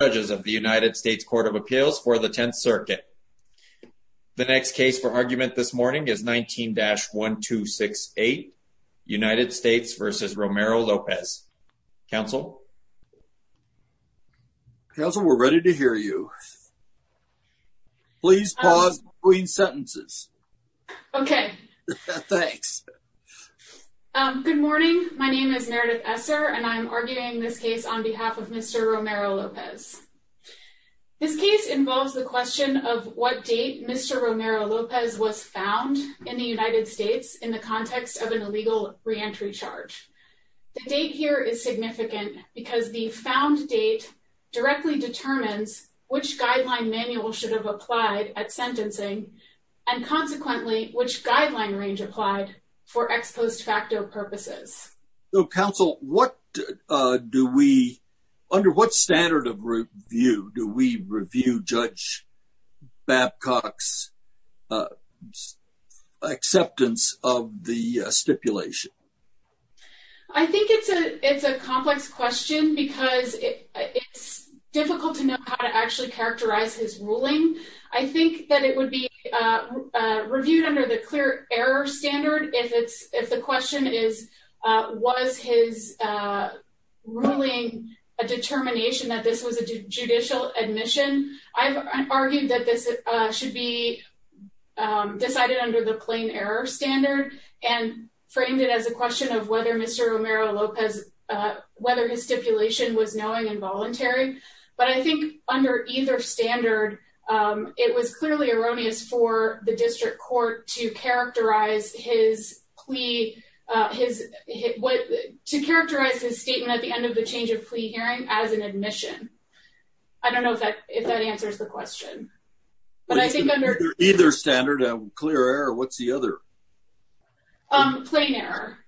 judges of the United States Court of Appeals for the Tenth Circuit. The next case for argument this morning is 19-1268, United States v. Romero-Lopez. Counsel? Counsel, we're ready to hear you. Please pause between sentences. Okay. Thanks. Good morning. My name is Meredith Esser and I'm arguing this case on behalf of Mr. Romero-Lopez. This case involves the question of what date Mr. Romero-Lopez was found in the United States in the context of an illegal reentry charge. The date here is significant because the found date directly determines which guideline manual should have applied at sentencing and consequently which guideline range applied for ex post facto purposes. Counsel, under what standard of review do we review Judge Babcock's acceptance of the stipulation? I think it's a complex question because it's difficult to know how to actually characterize his ruling. I think that it would be reviewed under the clear error standard if the question is, was his ruling a determination that this was a judicial admission? I've argued that this should be decided under the plain error standard and framed it as a question of whether Mr. Romero-Lopez, whether his stipulation was knowing and voluntary. But I think under either standard, it was clearly erroneous for the district court to characterize his plea, to characterize his statement at the end of the change of plea hearing as an admission. I don't know if that answers the question. Either standard, clear error. What's the other? Plain error.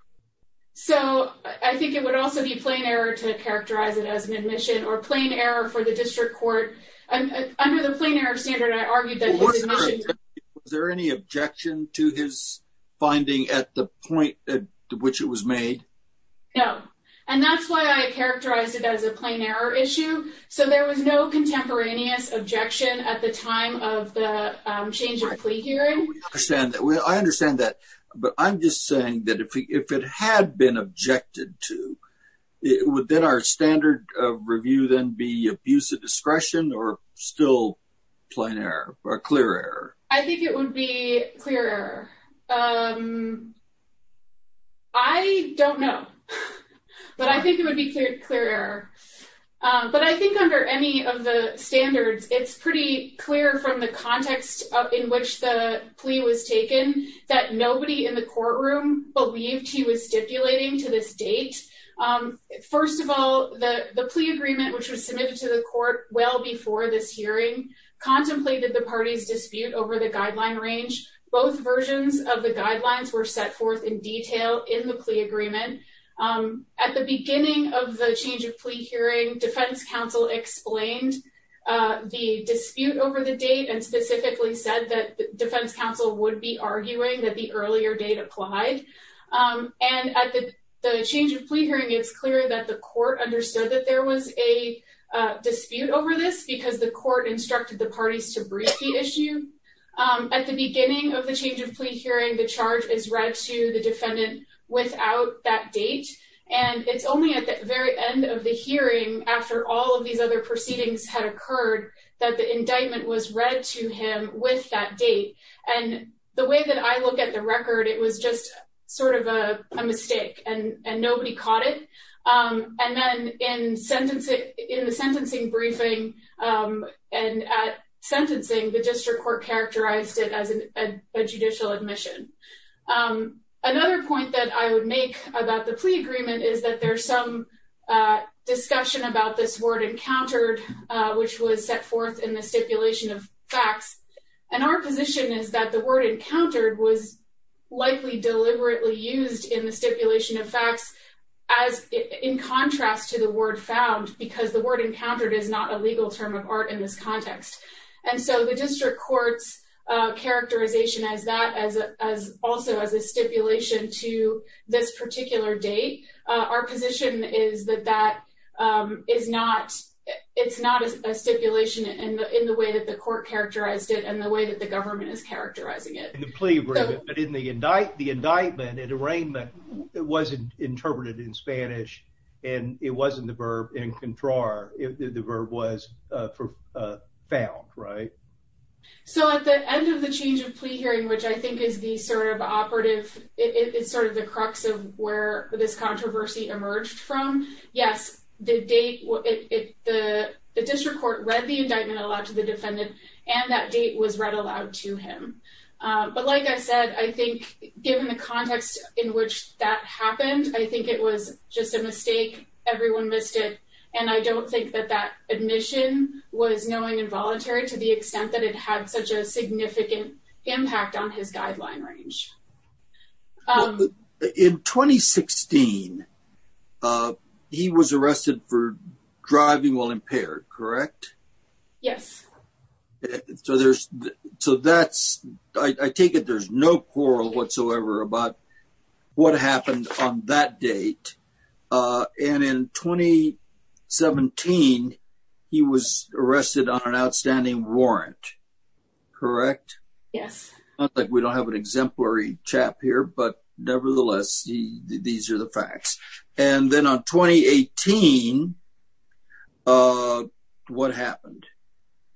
So I think it would also be plain error to characterize it as an admission or plain error for the district court. Under the plain error standard, I argued that his admission... Was there any objection to his finding at the point at which it was made? No. And that's why I characterized it as a plain error issue. So there was no contemporaneous objection at the time of the change of plea hearing. I understand that, but I'm just saying that if it had been objected to, would then our standard review then be abuse of discretion or still plain error or clear error? I think it would be clear error. I don't know, but I think it would be clear error. But I think under any of the standards, it's pretty clear from the context in which the plea was taken that nobody in the courtroom believed he was stipulating to this date. First of all, the plea agreement, which was submitted to the court well before this hearing, contemplated the party's dispute over the guideline range. Both versions of the guidelines were set forth in detail in the plea agreement. At the beginning of the change of plea hearing, defense counsel explained the dispute over the date and specifically said that defense counsel would be arguing that the earlier date applied. And at the change of plea hearing, it's clear that the court understood that there was a dispute over this because the court instructed the parties to brief the issue. At the beginning of the change of plea hearing, the charge is read to the defendant without that date. And it's only at the very end of the hearing, after all of these other proceedings had occurred, that the indictment was read to him with that date. And the way that I look at the record, it was just sort of a mistake and nobody caught it. And then in the sentencing briefing and at sentencing, the district court characterized it as a judicial admission. Another point that I would make about the plea agreement is that there's some discussion about this word encountered, which was set forth in the stipulation of facts. And our position is that the word encountered was likely deliberately used in the stipulation of facts as in contrast to the word found because the word encountered is not a legal term of art in this context. And so the district court's characterization as that, also as a stipulation to this particular date, our position is that it's not a stipulation in the way that the court characterized it and the way that the government is characterizing it. In the plea agreement, but in the indictment, it wasn't interpreted in Spanish, and it wasn't the verb encontrar, the verb was found, right? So at the end of the change of plea hearing, which I think is the sort of operative, it's sort of the crux of where this controversy emerged from. Yes, the district court read the indictment aloud to the defendant and that date was read aloud to him. But like I said, I think given the context in which that happened, I think it was just a mistake. Everyone missed it. And I don't think that that admission was knowing involuntary to the extent that it had such a significant impact on his guideline range. In 2016, he was arrested for driving while impaired, correct? Yes. So I take it there's no quarrel whatsoever about what happened on that date. And in 2017, he was arrested on an outstanding warrant, correct? Yes. It's not like we don't have an exemplary chap here, but nevertheless, these are the facts. And then on 2018, what happened?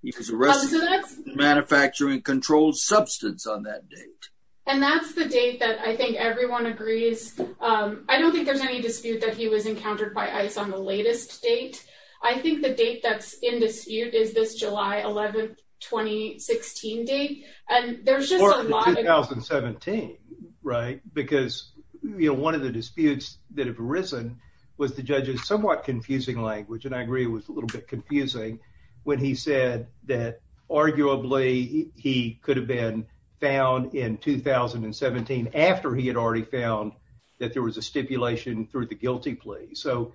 He was arrested for manufacturing controlled substance on that date. And that's the date that I think everyone agrees. I don't think there's any dispute that he was encountered by ICE on the latest date. I think the date that's in dispute is this July 11, 2016 date. Or 2017, right? Because one of the disputes that have arisen was the judge's somewhat confusing language. And I agree it was a little bit confusing when he said that arguably he could have been found in 2017 after he had already found that there was a stipulation through the guilty plea. So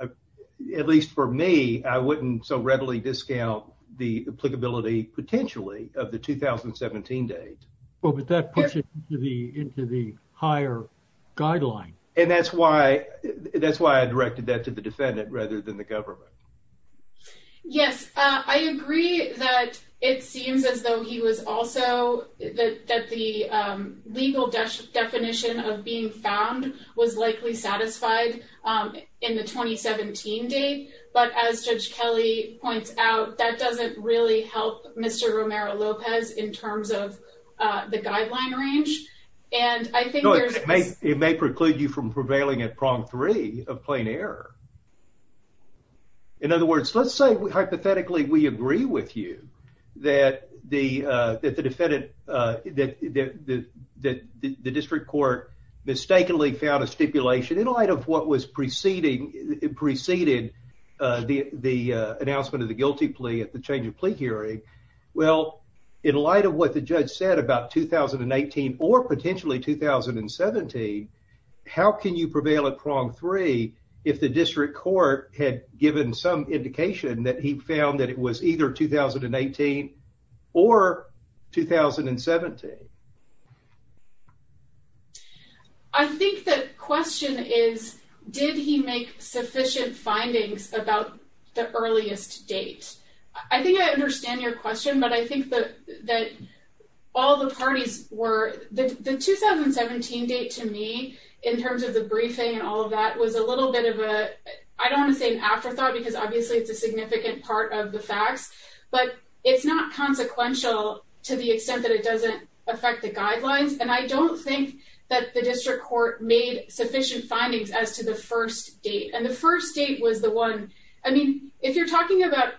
at least for me, I wouldn't so readily discount the applicability potentially of the 2017 date. But that puts it into the higher guideline. And that's why I directed that to the defendant rather than the government. Yes. I agree that it seems as though he was also that the legal definition of being found was likely satisfied in the 2017 date. But as Judge Kelly points out, that doesn't really help Mr. Romero-Lopez in terms of the guideline range. And I think there's... No, it may preclude you from prevailing at prong three of plain error. In other words, let's say hypothetically we agree with you that the defendant... That the district court mistakenly found a stipulation in light of what was preceding... Preceded the announcement of the guilty plea at the change of plea hearing. Well, in light of what the judge said about 2018 or potentially 2017, how can you prevail at prong three if the district court had given some indication that he found that it was either 2018 or 2017? I think the question is, did he make sufficient findings about the earliest date? I think I understand your question, but I think that all the parties were... The 2017 date to me in terms of the briefing and all of that was a little bit of a... I don't want to say an afterthought because obviously it's a significant part of the facts. But it's not consequential to the extent that it doesn't affect the guidelines. And I don't think that the district court made sufficient findings as to the first date. And the first date was the one... I mean, if you're talking about...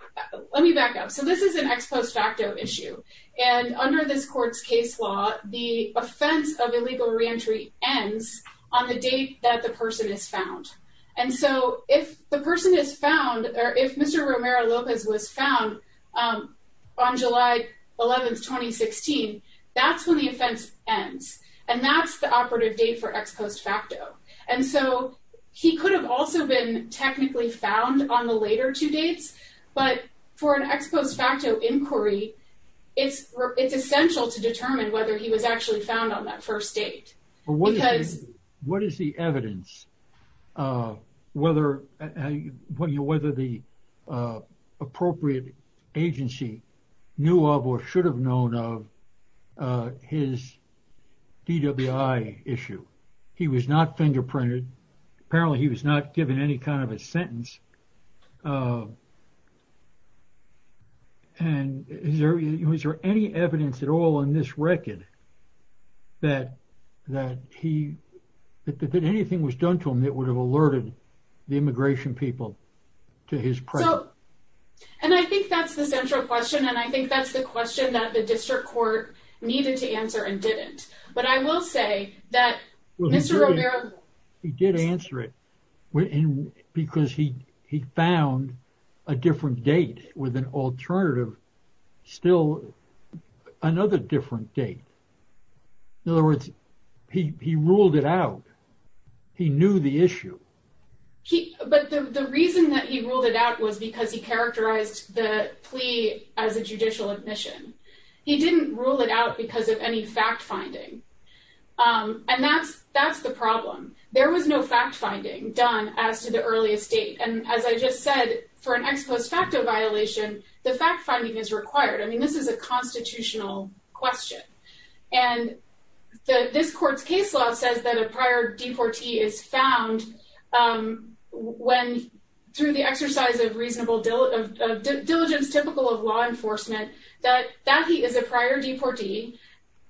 Let me back up. So this is an ex post facto issue. And under this court's case law, the offense of illegal reentry ends on the date that the person is found. And so if the person is found or if Mr. Romero Lopez was found on July 11th, 2016, that's when the offense ends. And that's the operative date for ex post facto. And so he could have also been technically found on the later two dates. But for an ex post facto inquiry, it's essential to determine whether he was actually found on that first date. What is the evidence, whether the appropriate agency knew of or should have known of his DWI issue? He was not fingerprinted. Apparently he was not given any kind of a sentence. And was there any evidence at all in this record that anything was done to him that would have alerted the immigration people to his presence? And I think that's the central question. And I think that's the question that the district court needed to answer and didn't. But I will say that Mr. Romero. He did answer it because he found a different date with an alternative, still another different date. In other words, he ruled it out. He knew the issue. But the reason that he ruled it out was because he characterized the plea as a judicial admission. He didn't rule it out because of any fact finding. And that's the problem. There was no fact finding done as to the earliest date. And as I just said, for an ex post facto violation, the fact finding is required. I mean, this is a constitutional question. And this court's case law says that a prior deportee is found when through the exercise of reasonable diligence typical of law enforcement, that he is a prior deportee,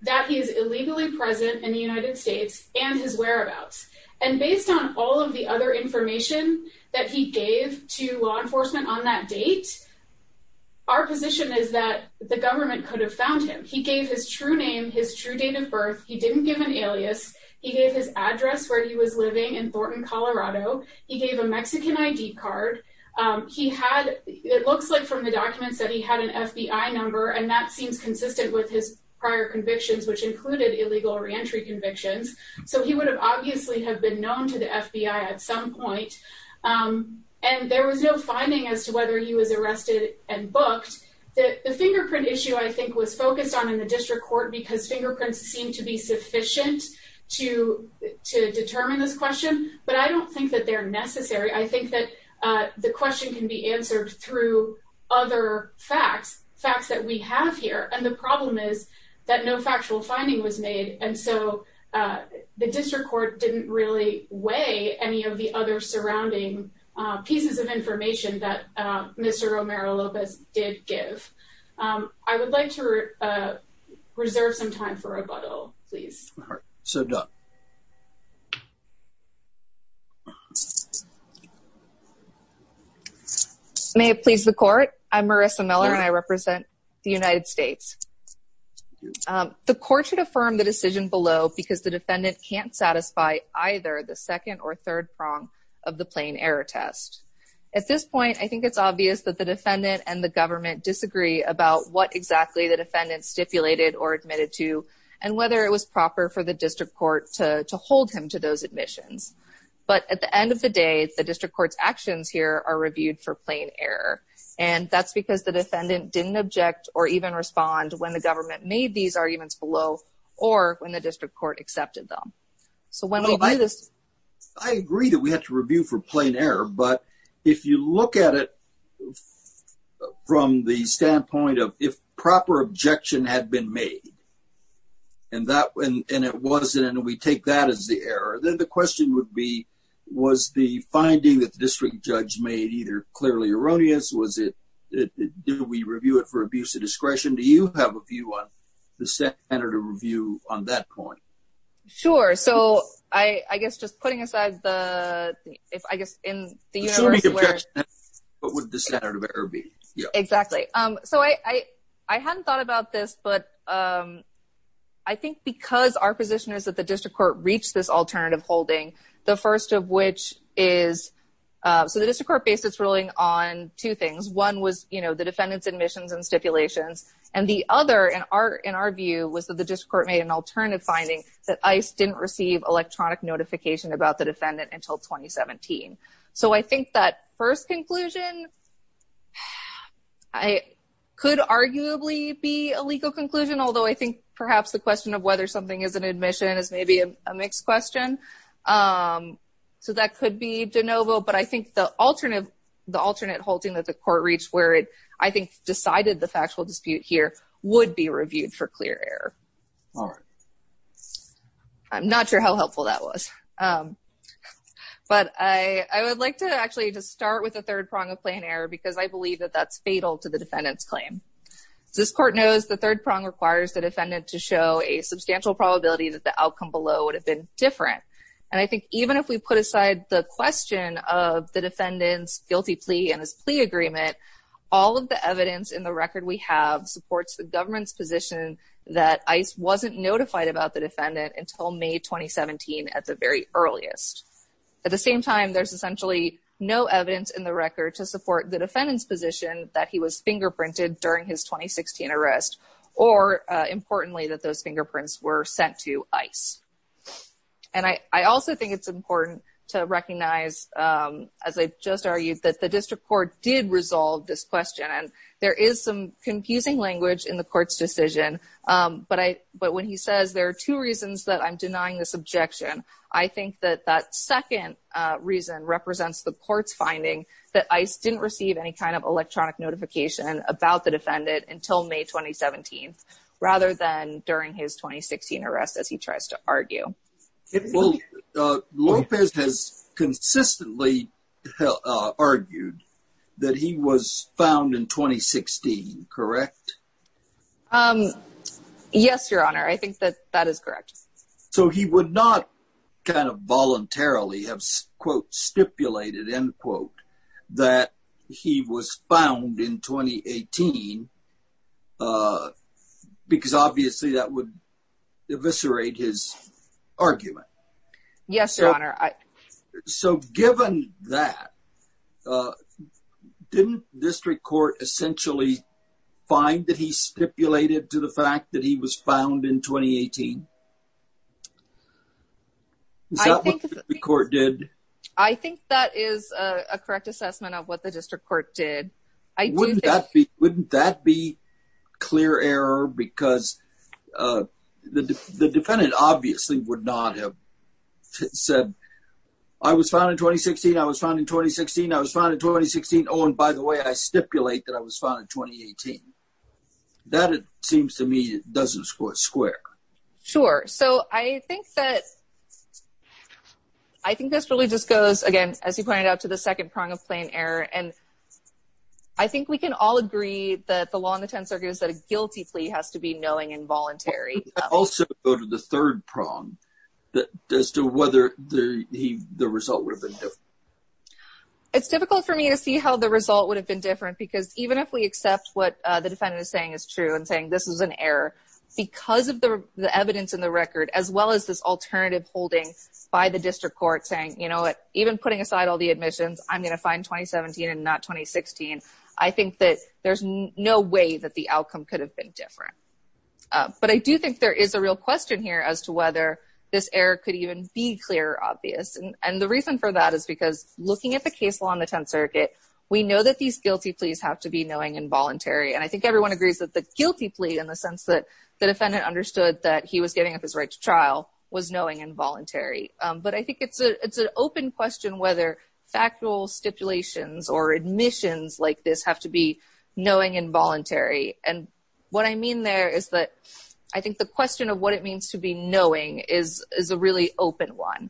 that he is illegally present in the United States, and his whereabouts. And based on all of the other information that he gave to law enforcement on that date, our position is that the government could have found him. He gave his true name, his true date of birth. He didn't give an alias. He gave his address where he was living in Thornton, Colorado. He gave a Mexican ID card. It looks like from the documents that he had an FBI number, and that seems consistent with his prior convictions, which included illegal reentry convictions. So he would have obviously have been known to the FBI at some point. The fingerprint issue I think was focused on in the district court because fingerprints seem to be sufficient to determine this question. But I don't think that they're necessary. I think that the question can be answered through other facts, facts that we have here. And the problem is that no factual finding was made. And so the district court didn't really weigh any of the other surrounding pieces of information that Mr. Romero-Lopez did give. I would like to reserve some time for rebuttal, please. All right. May it please the court. I'm Marissa Miller, and I represent the United States. The court should affirm the decision below because the defendant can't satisfy either the second or third prong of the plain error test. At this point, I think it's obvious that the defendant and the government disagree about what exactly the defendant stipulated or admitted to, and whether it was proper for the district court to hold him to those admissions. But at the end of the day, the district court's actions here are reviewed for plain error. And that's because the defendant didn't object or even respond when the government made these arguments below or when the district court accepted them. So when we do this – I agree that we have to review for plain error. But if you look at it from the standpoint of if proper objection had been made, and it wasn't, and we take that as the error, then the question would be, was the finding that the district judge made either clearly erroneous? Was it – did we review it for abuse of discretion? Do you have a view on the standard of review on that point? Sure. So I guess just putting aside the – if I guess in the universe where – Assuming objection, what would the standard of error be? Exactly. So I hadn't thought about this, but I think because our position is that the district court reached this alternative holding, the first of which is – so the district court based its ruling on two things. One was the defendant's admissions and stipulations. And the other, in our view, was that the district court made an alternative finding, that ICE didn't receive electronic notification about the defendant until 2017. So I think that first conclusion could arguably be a legal conclusion, although I think perhaps the question of whether something is an admission is maybe a mixed question. So that could be de novo. But I think the alternate holding that the court reached where it, I think, decided the factual dispute here would be reviewed for clear error. All right. I'm not sure how helpful that was. But I would like to actually just start with the third prong of plain error because I believe that that's fatal to the defendant's claim. As this court knows, the third prong requires the defendant to show a substantial probability that the outcome below would have been different. And I think even if we put aside the question of the defendant's guilty plea and his plea agreement, all of the evidence in the record we have supports the government's position that ICE wasn't notified about the defendant until May 2017 at the very earliest. At the same time, there's essentially no evidence in the record to support the defendant's position that he was fingerprinted during his 2016 arrest or, importantly, that those fingerprints were sent to ICE. And I also think it's important to recognize, as I just argued, that the district court did resolve this question. And there is some confusing language in the court's decision. But when he says there are two reasons that I'm denying this objection, I think that that second reason represents the court's finding that ICE didn't receive any kind of electronic notification about the defendant until May 2017 rather than during his 2016 arrest as he tries to argue. Well, Lopez has consistently argued that he was found in 2016, correct? Yes, Your Honor. I think that that is correct. So he would not kind of voluntarily have, quote, stipulated, end quote, that he was found in 2018 because, obviously, that would eviscerate his argument. Yes, Your Honor. So given that, didn't district court essentially find that he stipulated to the fact that he was found in 2018? Is that what the district court did? I think that is a correct assessment of what the district court did. Wouldn't that be clear error? Because the defendant obviously would not have said, I was found in 2016, I was found in 2016, I was found in 2016, oh, and by the way, I stipulate that I was found in 2018. That, it seems to me, doesn't square. Sure. So I think that, I think this really just goes, again, as you pointed out, to the second prong of plain error. And I think we can all agree that the law in the 10th Circuit is that a guilty plea has to be knowing and voluntary. Also go to the third prong as to whether the result would have been different. It's difficult for me to see how the result would have been different because even if we accept what the defendant is saying is true and saying this is an error, because of the evidence in the record, as well as this alternative holding by the district court saying, you know what, even putting aside all the admissions, I'm going to find 2017 and not 2016, I think that there's no way that the outcome could have been different. But I do think there is a real question here as to whether this error could even be clear or obvious. And the reason for that is because looking at the case law in the 10th Circuit, we know that these guilty pleas have to be knowing and voluntary. And I think everyone agrees that the guilty plea in the sense that the defendant understood that he was giving up his right to trial was knowing and voluntary. But I think it's an open question whether factual stipulations or admissions like this have to be knowing and voluntary. And what I mean there is that I think the question of what it means to be knowing is a really open one.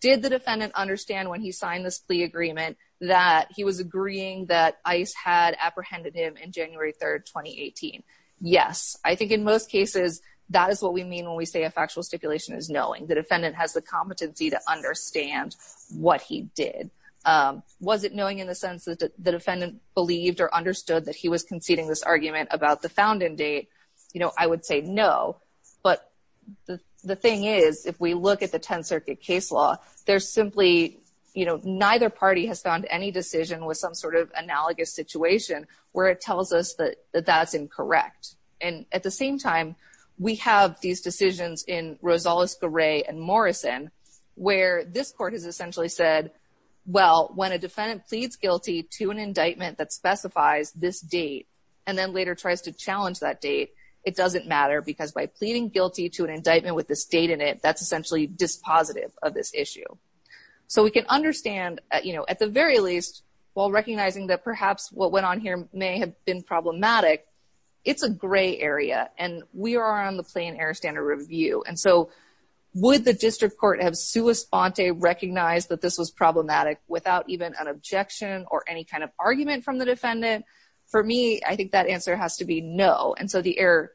Did the defendant understand when he signed this plea agreement that he was agreeing that ICE had apprehended him in January 3, 2018? Yes. I think in most cases that is what we mean when we say a factual stipulation is knowing. The defendant has the competency to understand what he did. Was it knowing in the sense that the defendant believed or understood that he was conceding this argument about the founding date? You know, I would say no. But the thing is, if we look at the 10th Circuit case law, there's simply, you know, neither party has found any decision with some sort of analogous situation where it tells us that that's incorrect. And at the same time, we have these decisions in Rosales-Garray and Morrison where this court has essentially said, well, when a defendant pleads guilty to an indictment that specifies this date and then later tries to challenge that date, it doesn't matter because by pleading guilty to an indictment with this date in it, that's essentially dispositive of this issue. So we can understand, you know, at the very least, while recognizing that perhaps what went on here may have been problematic, it's a gray area and we are on the plain error standard review. And so would the district court have sua sponte recognized that this was problematic without even an objection or any kind of argument from the defendant? For me, I think that answer has to be no. And so the error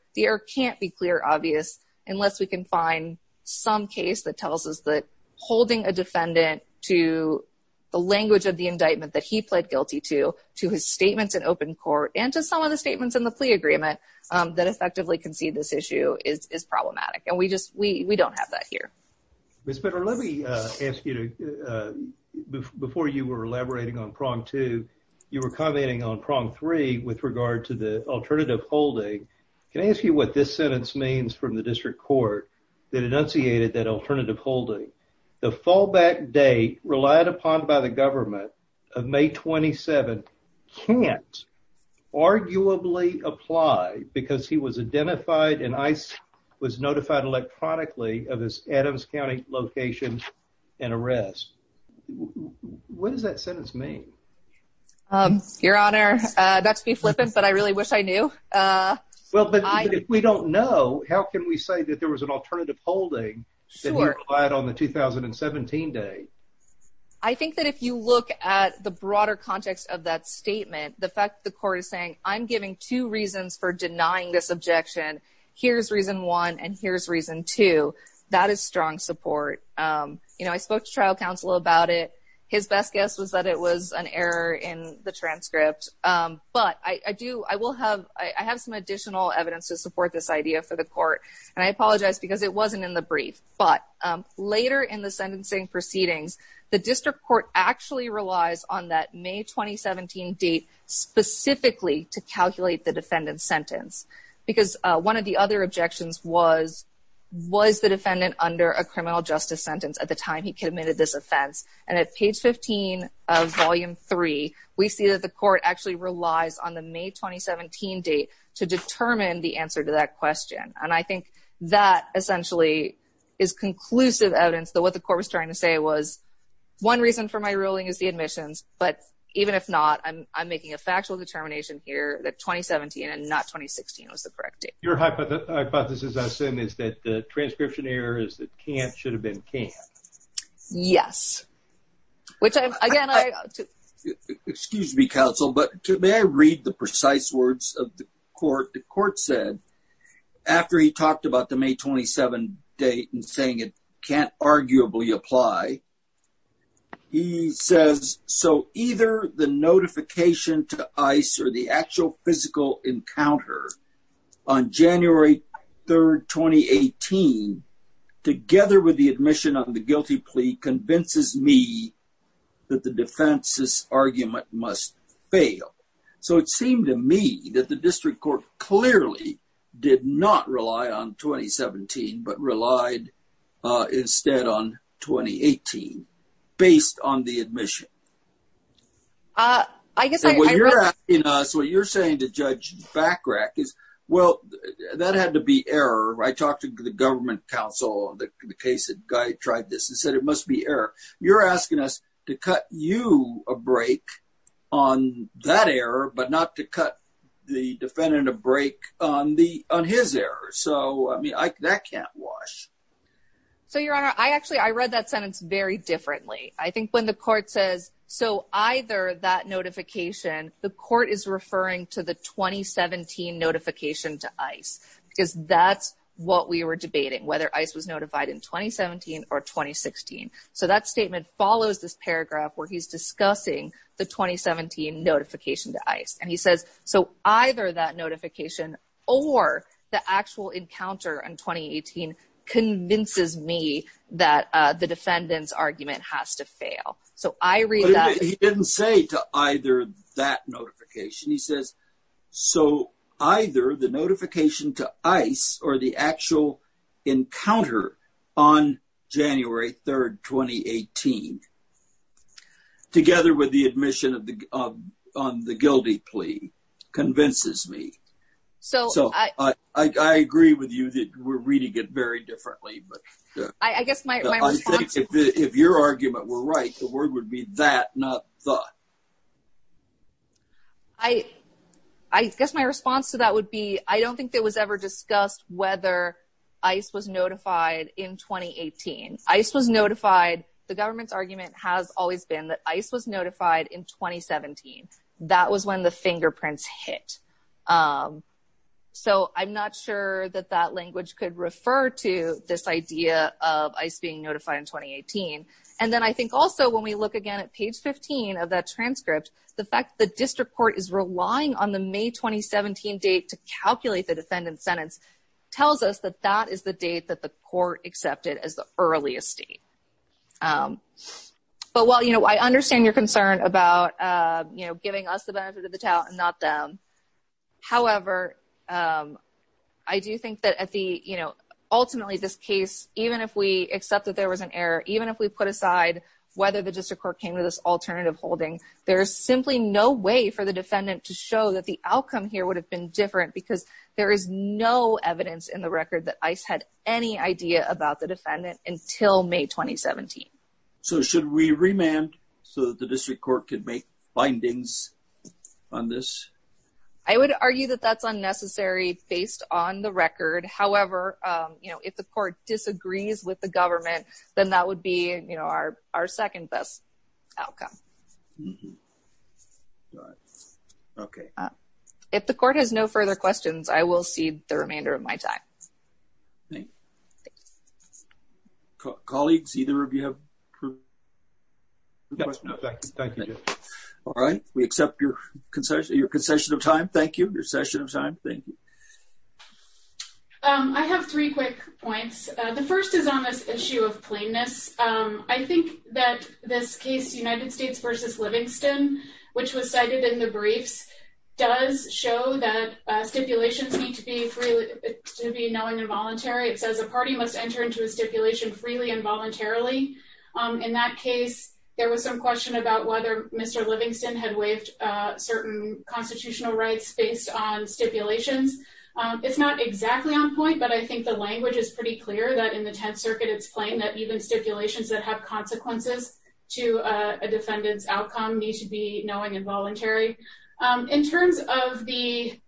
can't be clear, obvious, unless we can find some case that tells us that holding a defendant to the language of the indictment that he pled guilty to, to his statements in open court, and to some of the statements in the plea agreement that effectively concede this issue is problematic. And we don't have that here. Ms. Bitter, let me ask you, before you were elaborating on prong two, you were commenting on prong three with regard to the alternative holding. Can I ask you what this sentence means from the district court that enunciated that alternative holding? The fallback date relied upon by the government of May 27 can't arguably apply because he was identified and was notified electronically of his Adams County location and arrest. What does that sentence mean? Your Honor, that's me flipping, but I really wish I knew. Well, but if we don't know, how can we say that there was an alternative holding that he applied on the 2017 date? I think that if you look at the broader context of that statement, the fact that the court is saying, I'm giving two reasons for denying this objection, here's reason one and here's reason two, that is strong support. I spoke to trial counsel about it. His best guess was that it was an error in the transcript. But I have some additional evidence to support this idea for the court. And I apologize because it wasn't in the brief. But later in the sentencing proceedings, the district court actually relies on that May 2017 date specifically to calculate the defendant's sentence because one of the other objections was, was the defendant under a criminal justice sentence at the time he committed this offense? And at page 15 of volume three, we see that the court actually relies on the May 2017 date to determine the answer to that question. And I think that essentially is conclusive evidence that what the court was trying to say was, one reason for my ruling is the admissions, but even if not, I'm making a factual determination here that 2017 and not 2016 was the correct date. Your hypothesis, I assume, is that the transcription error is that can't should have been can't. Yes. Excuse me, counsel, but may I read the precise words of the court? The court said after he talked about the May 27 date and saying it can't arguably apply, he says so either the notification to ICE or the actual physical encounter on January 3rd, 2018, together with the admission of the guilty plea, convinces me that the defense's argument must fail. So it seemed to me that the district court clearly did not rely on 2017, but relied instead on 2018 based on the admission. I guess what you're asking us, what you're saying to Judge Bachrach is, well, that had to be error. I talked to the government counsel on the case that guy tried this and said it must be error. You're asking us to cut you a break on that error, but not to cut the defendant a break on his error. So, I mean, that can't wash. So, Your Honor, I actually, I read that sentence very differently. I think when the court says so either that notification, the court is referring to the 2017 notification to ICE because that's what we were debating, whether ICE was notified in 2017 or 2016. So that statement follows this paragraph where he's discussing the 2017 notification to ICE. And he says so either that notification or the actual encounter in 2018 convinces me that the defendant's argument has to fail. So, I read that. He didn't say to either that notification. He says so either the notification to ICE or the actual encounter on January 3rd, 2018, together with the admission on the guilty plea, convinces me. So, I agree with you that we're reading it very differently. I guess my response is if your argument were right, the word would be that, not the. I guess my response to that would be, I don't think that was ever discussed whether ICE was notified in 2018. ICE was notified. The government's argument has always been that ICE was notified in 2017. That was when the fingerprints hit. So, I'm not sure that that language could refer to this idea of ICE being notified in 2018. And then I think also when we look again at page 15 of that transcript, the fact the district court is relying on the May 2017 date to calculate the defendant's sentence tells us that that is the date that the court accepted as the earliest date. But while I understand your concern about giving us the benefit of the doubt and not them, however, I do think that ultimately this case, even if we accept that there was an error, even if we put aside whether the district court came to this alternative holding, there's simply no way for the defendant to show that the outcome here would have been different because there is no evidence in the record that ICE had any idea about the defendant until May 2017. So, should we remand so that the district court could make findings on this? I would argue that that's unnecessary based on the record. However, if the court disagrees with the government, then that would be our second best outcome. If the court has no further questions, I will cede the remainder of my time. Colleagues, either of you have questions? No, thank you. All right. We accept your concession of time. Thank you. Your concession of time. Thank you. I have three quick points. The first is on this issue of plainness. I think that this case, United States v. Livingston, which was cited in the briefs, does show that stipulations need to be knowing and voluntary. It says a party must enter into a stipulation freely and voluntarily. In that case, there was some question about whether Mr. Livingston had waived certain constitutional rights based on stipulations. It's not exactly on point, but I think the language is pretty clear that in the Tenth Circuit it's plain that even stipulations that have consequences to a defendant's outcome need to be knowing and voluntary. In terms of the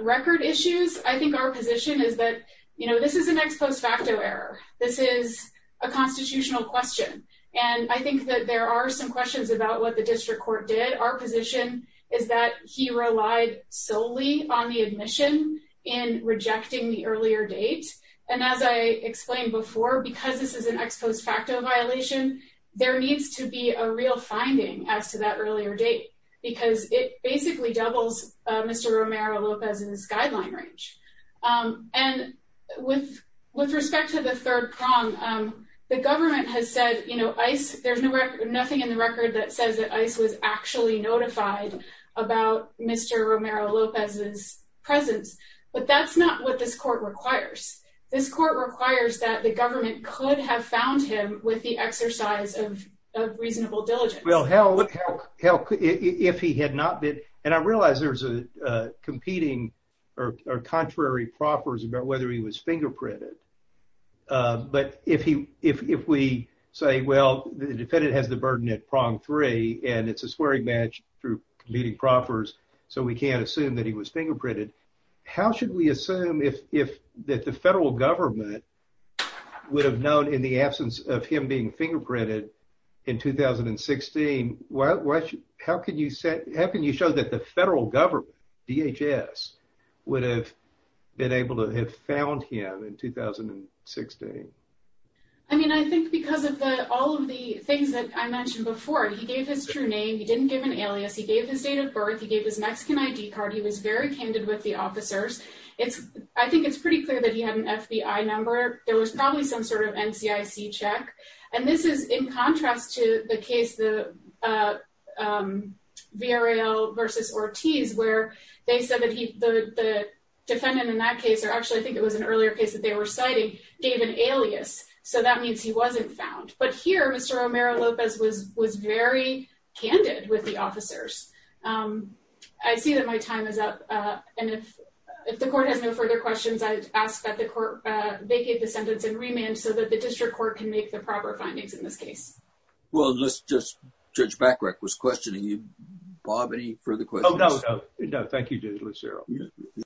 record issues, I think our position is that this is an ex post facto error. This is a constitutional question, and I think that there are some questions about what the district court did. Our position is that he relied solely on the admission in rejecting the earlier date, and as I explained before, because this is an ex post facto violation, there needs to be a real finding as to that earlier date because it basically doubles Mr. Romero-Lopez's guideline range. And with respect to the third prong, the government has said, you know, ICE, there's nothing in the record that says that ICE was actually notified about Mr. Romero-Lopez's presence, but that's not what this court requires. This court requires that the government could have found him with the exercise of reasonable diligence. Well, if he had not been, and I realize there's a competing or contrary proffers about whether he was fingerprinted, but if we say, well, the defendant has the burden at prong three, and it's a swearing match through competing proffers, so we can't assume that he was fingerprinted. How should we assume that the federal government would have known in the absence of him being fingerprinted in 2016? How can you show that the federal government, DHS, would have been able to have found him in 2016? I mean, I think because of all of the things that I mentioned before, he gave his true name. He didn't give an alias. He gave his date of birth. He gave his Mexican ID card. He was very candid with the officers. I think it's pretty clear that he had an FBI number. There was probably some sort of NCIC check, and this is in contrast to the case, the VRL versus Ortiz, where they said that the defendant in that case, or actually I think it was an earlier case that they were citing, gave an alias, so that means he wasn't found, but here Mr. Romero Lopez was very candid with the officers. I see that my time is up, and if the court has no further questions, I ask that the court vacate the sentence and remand so that the district court can make the proper findings in this case. Well, let's just... Judge Backrek was questioning you. Bob, any further questions? Oh, no, no. No, thank you, Judge Lucero.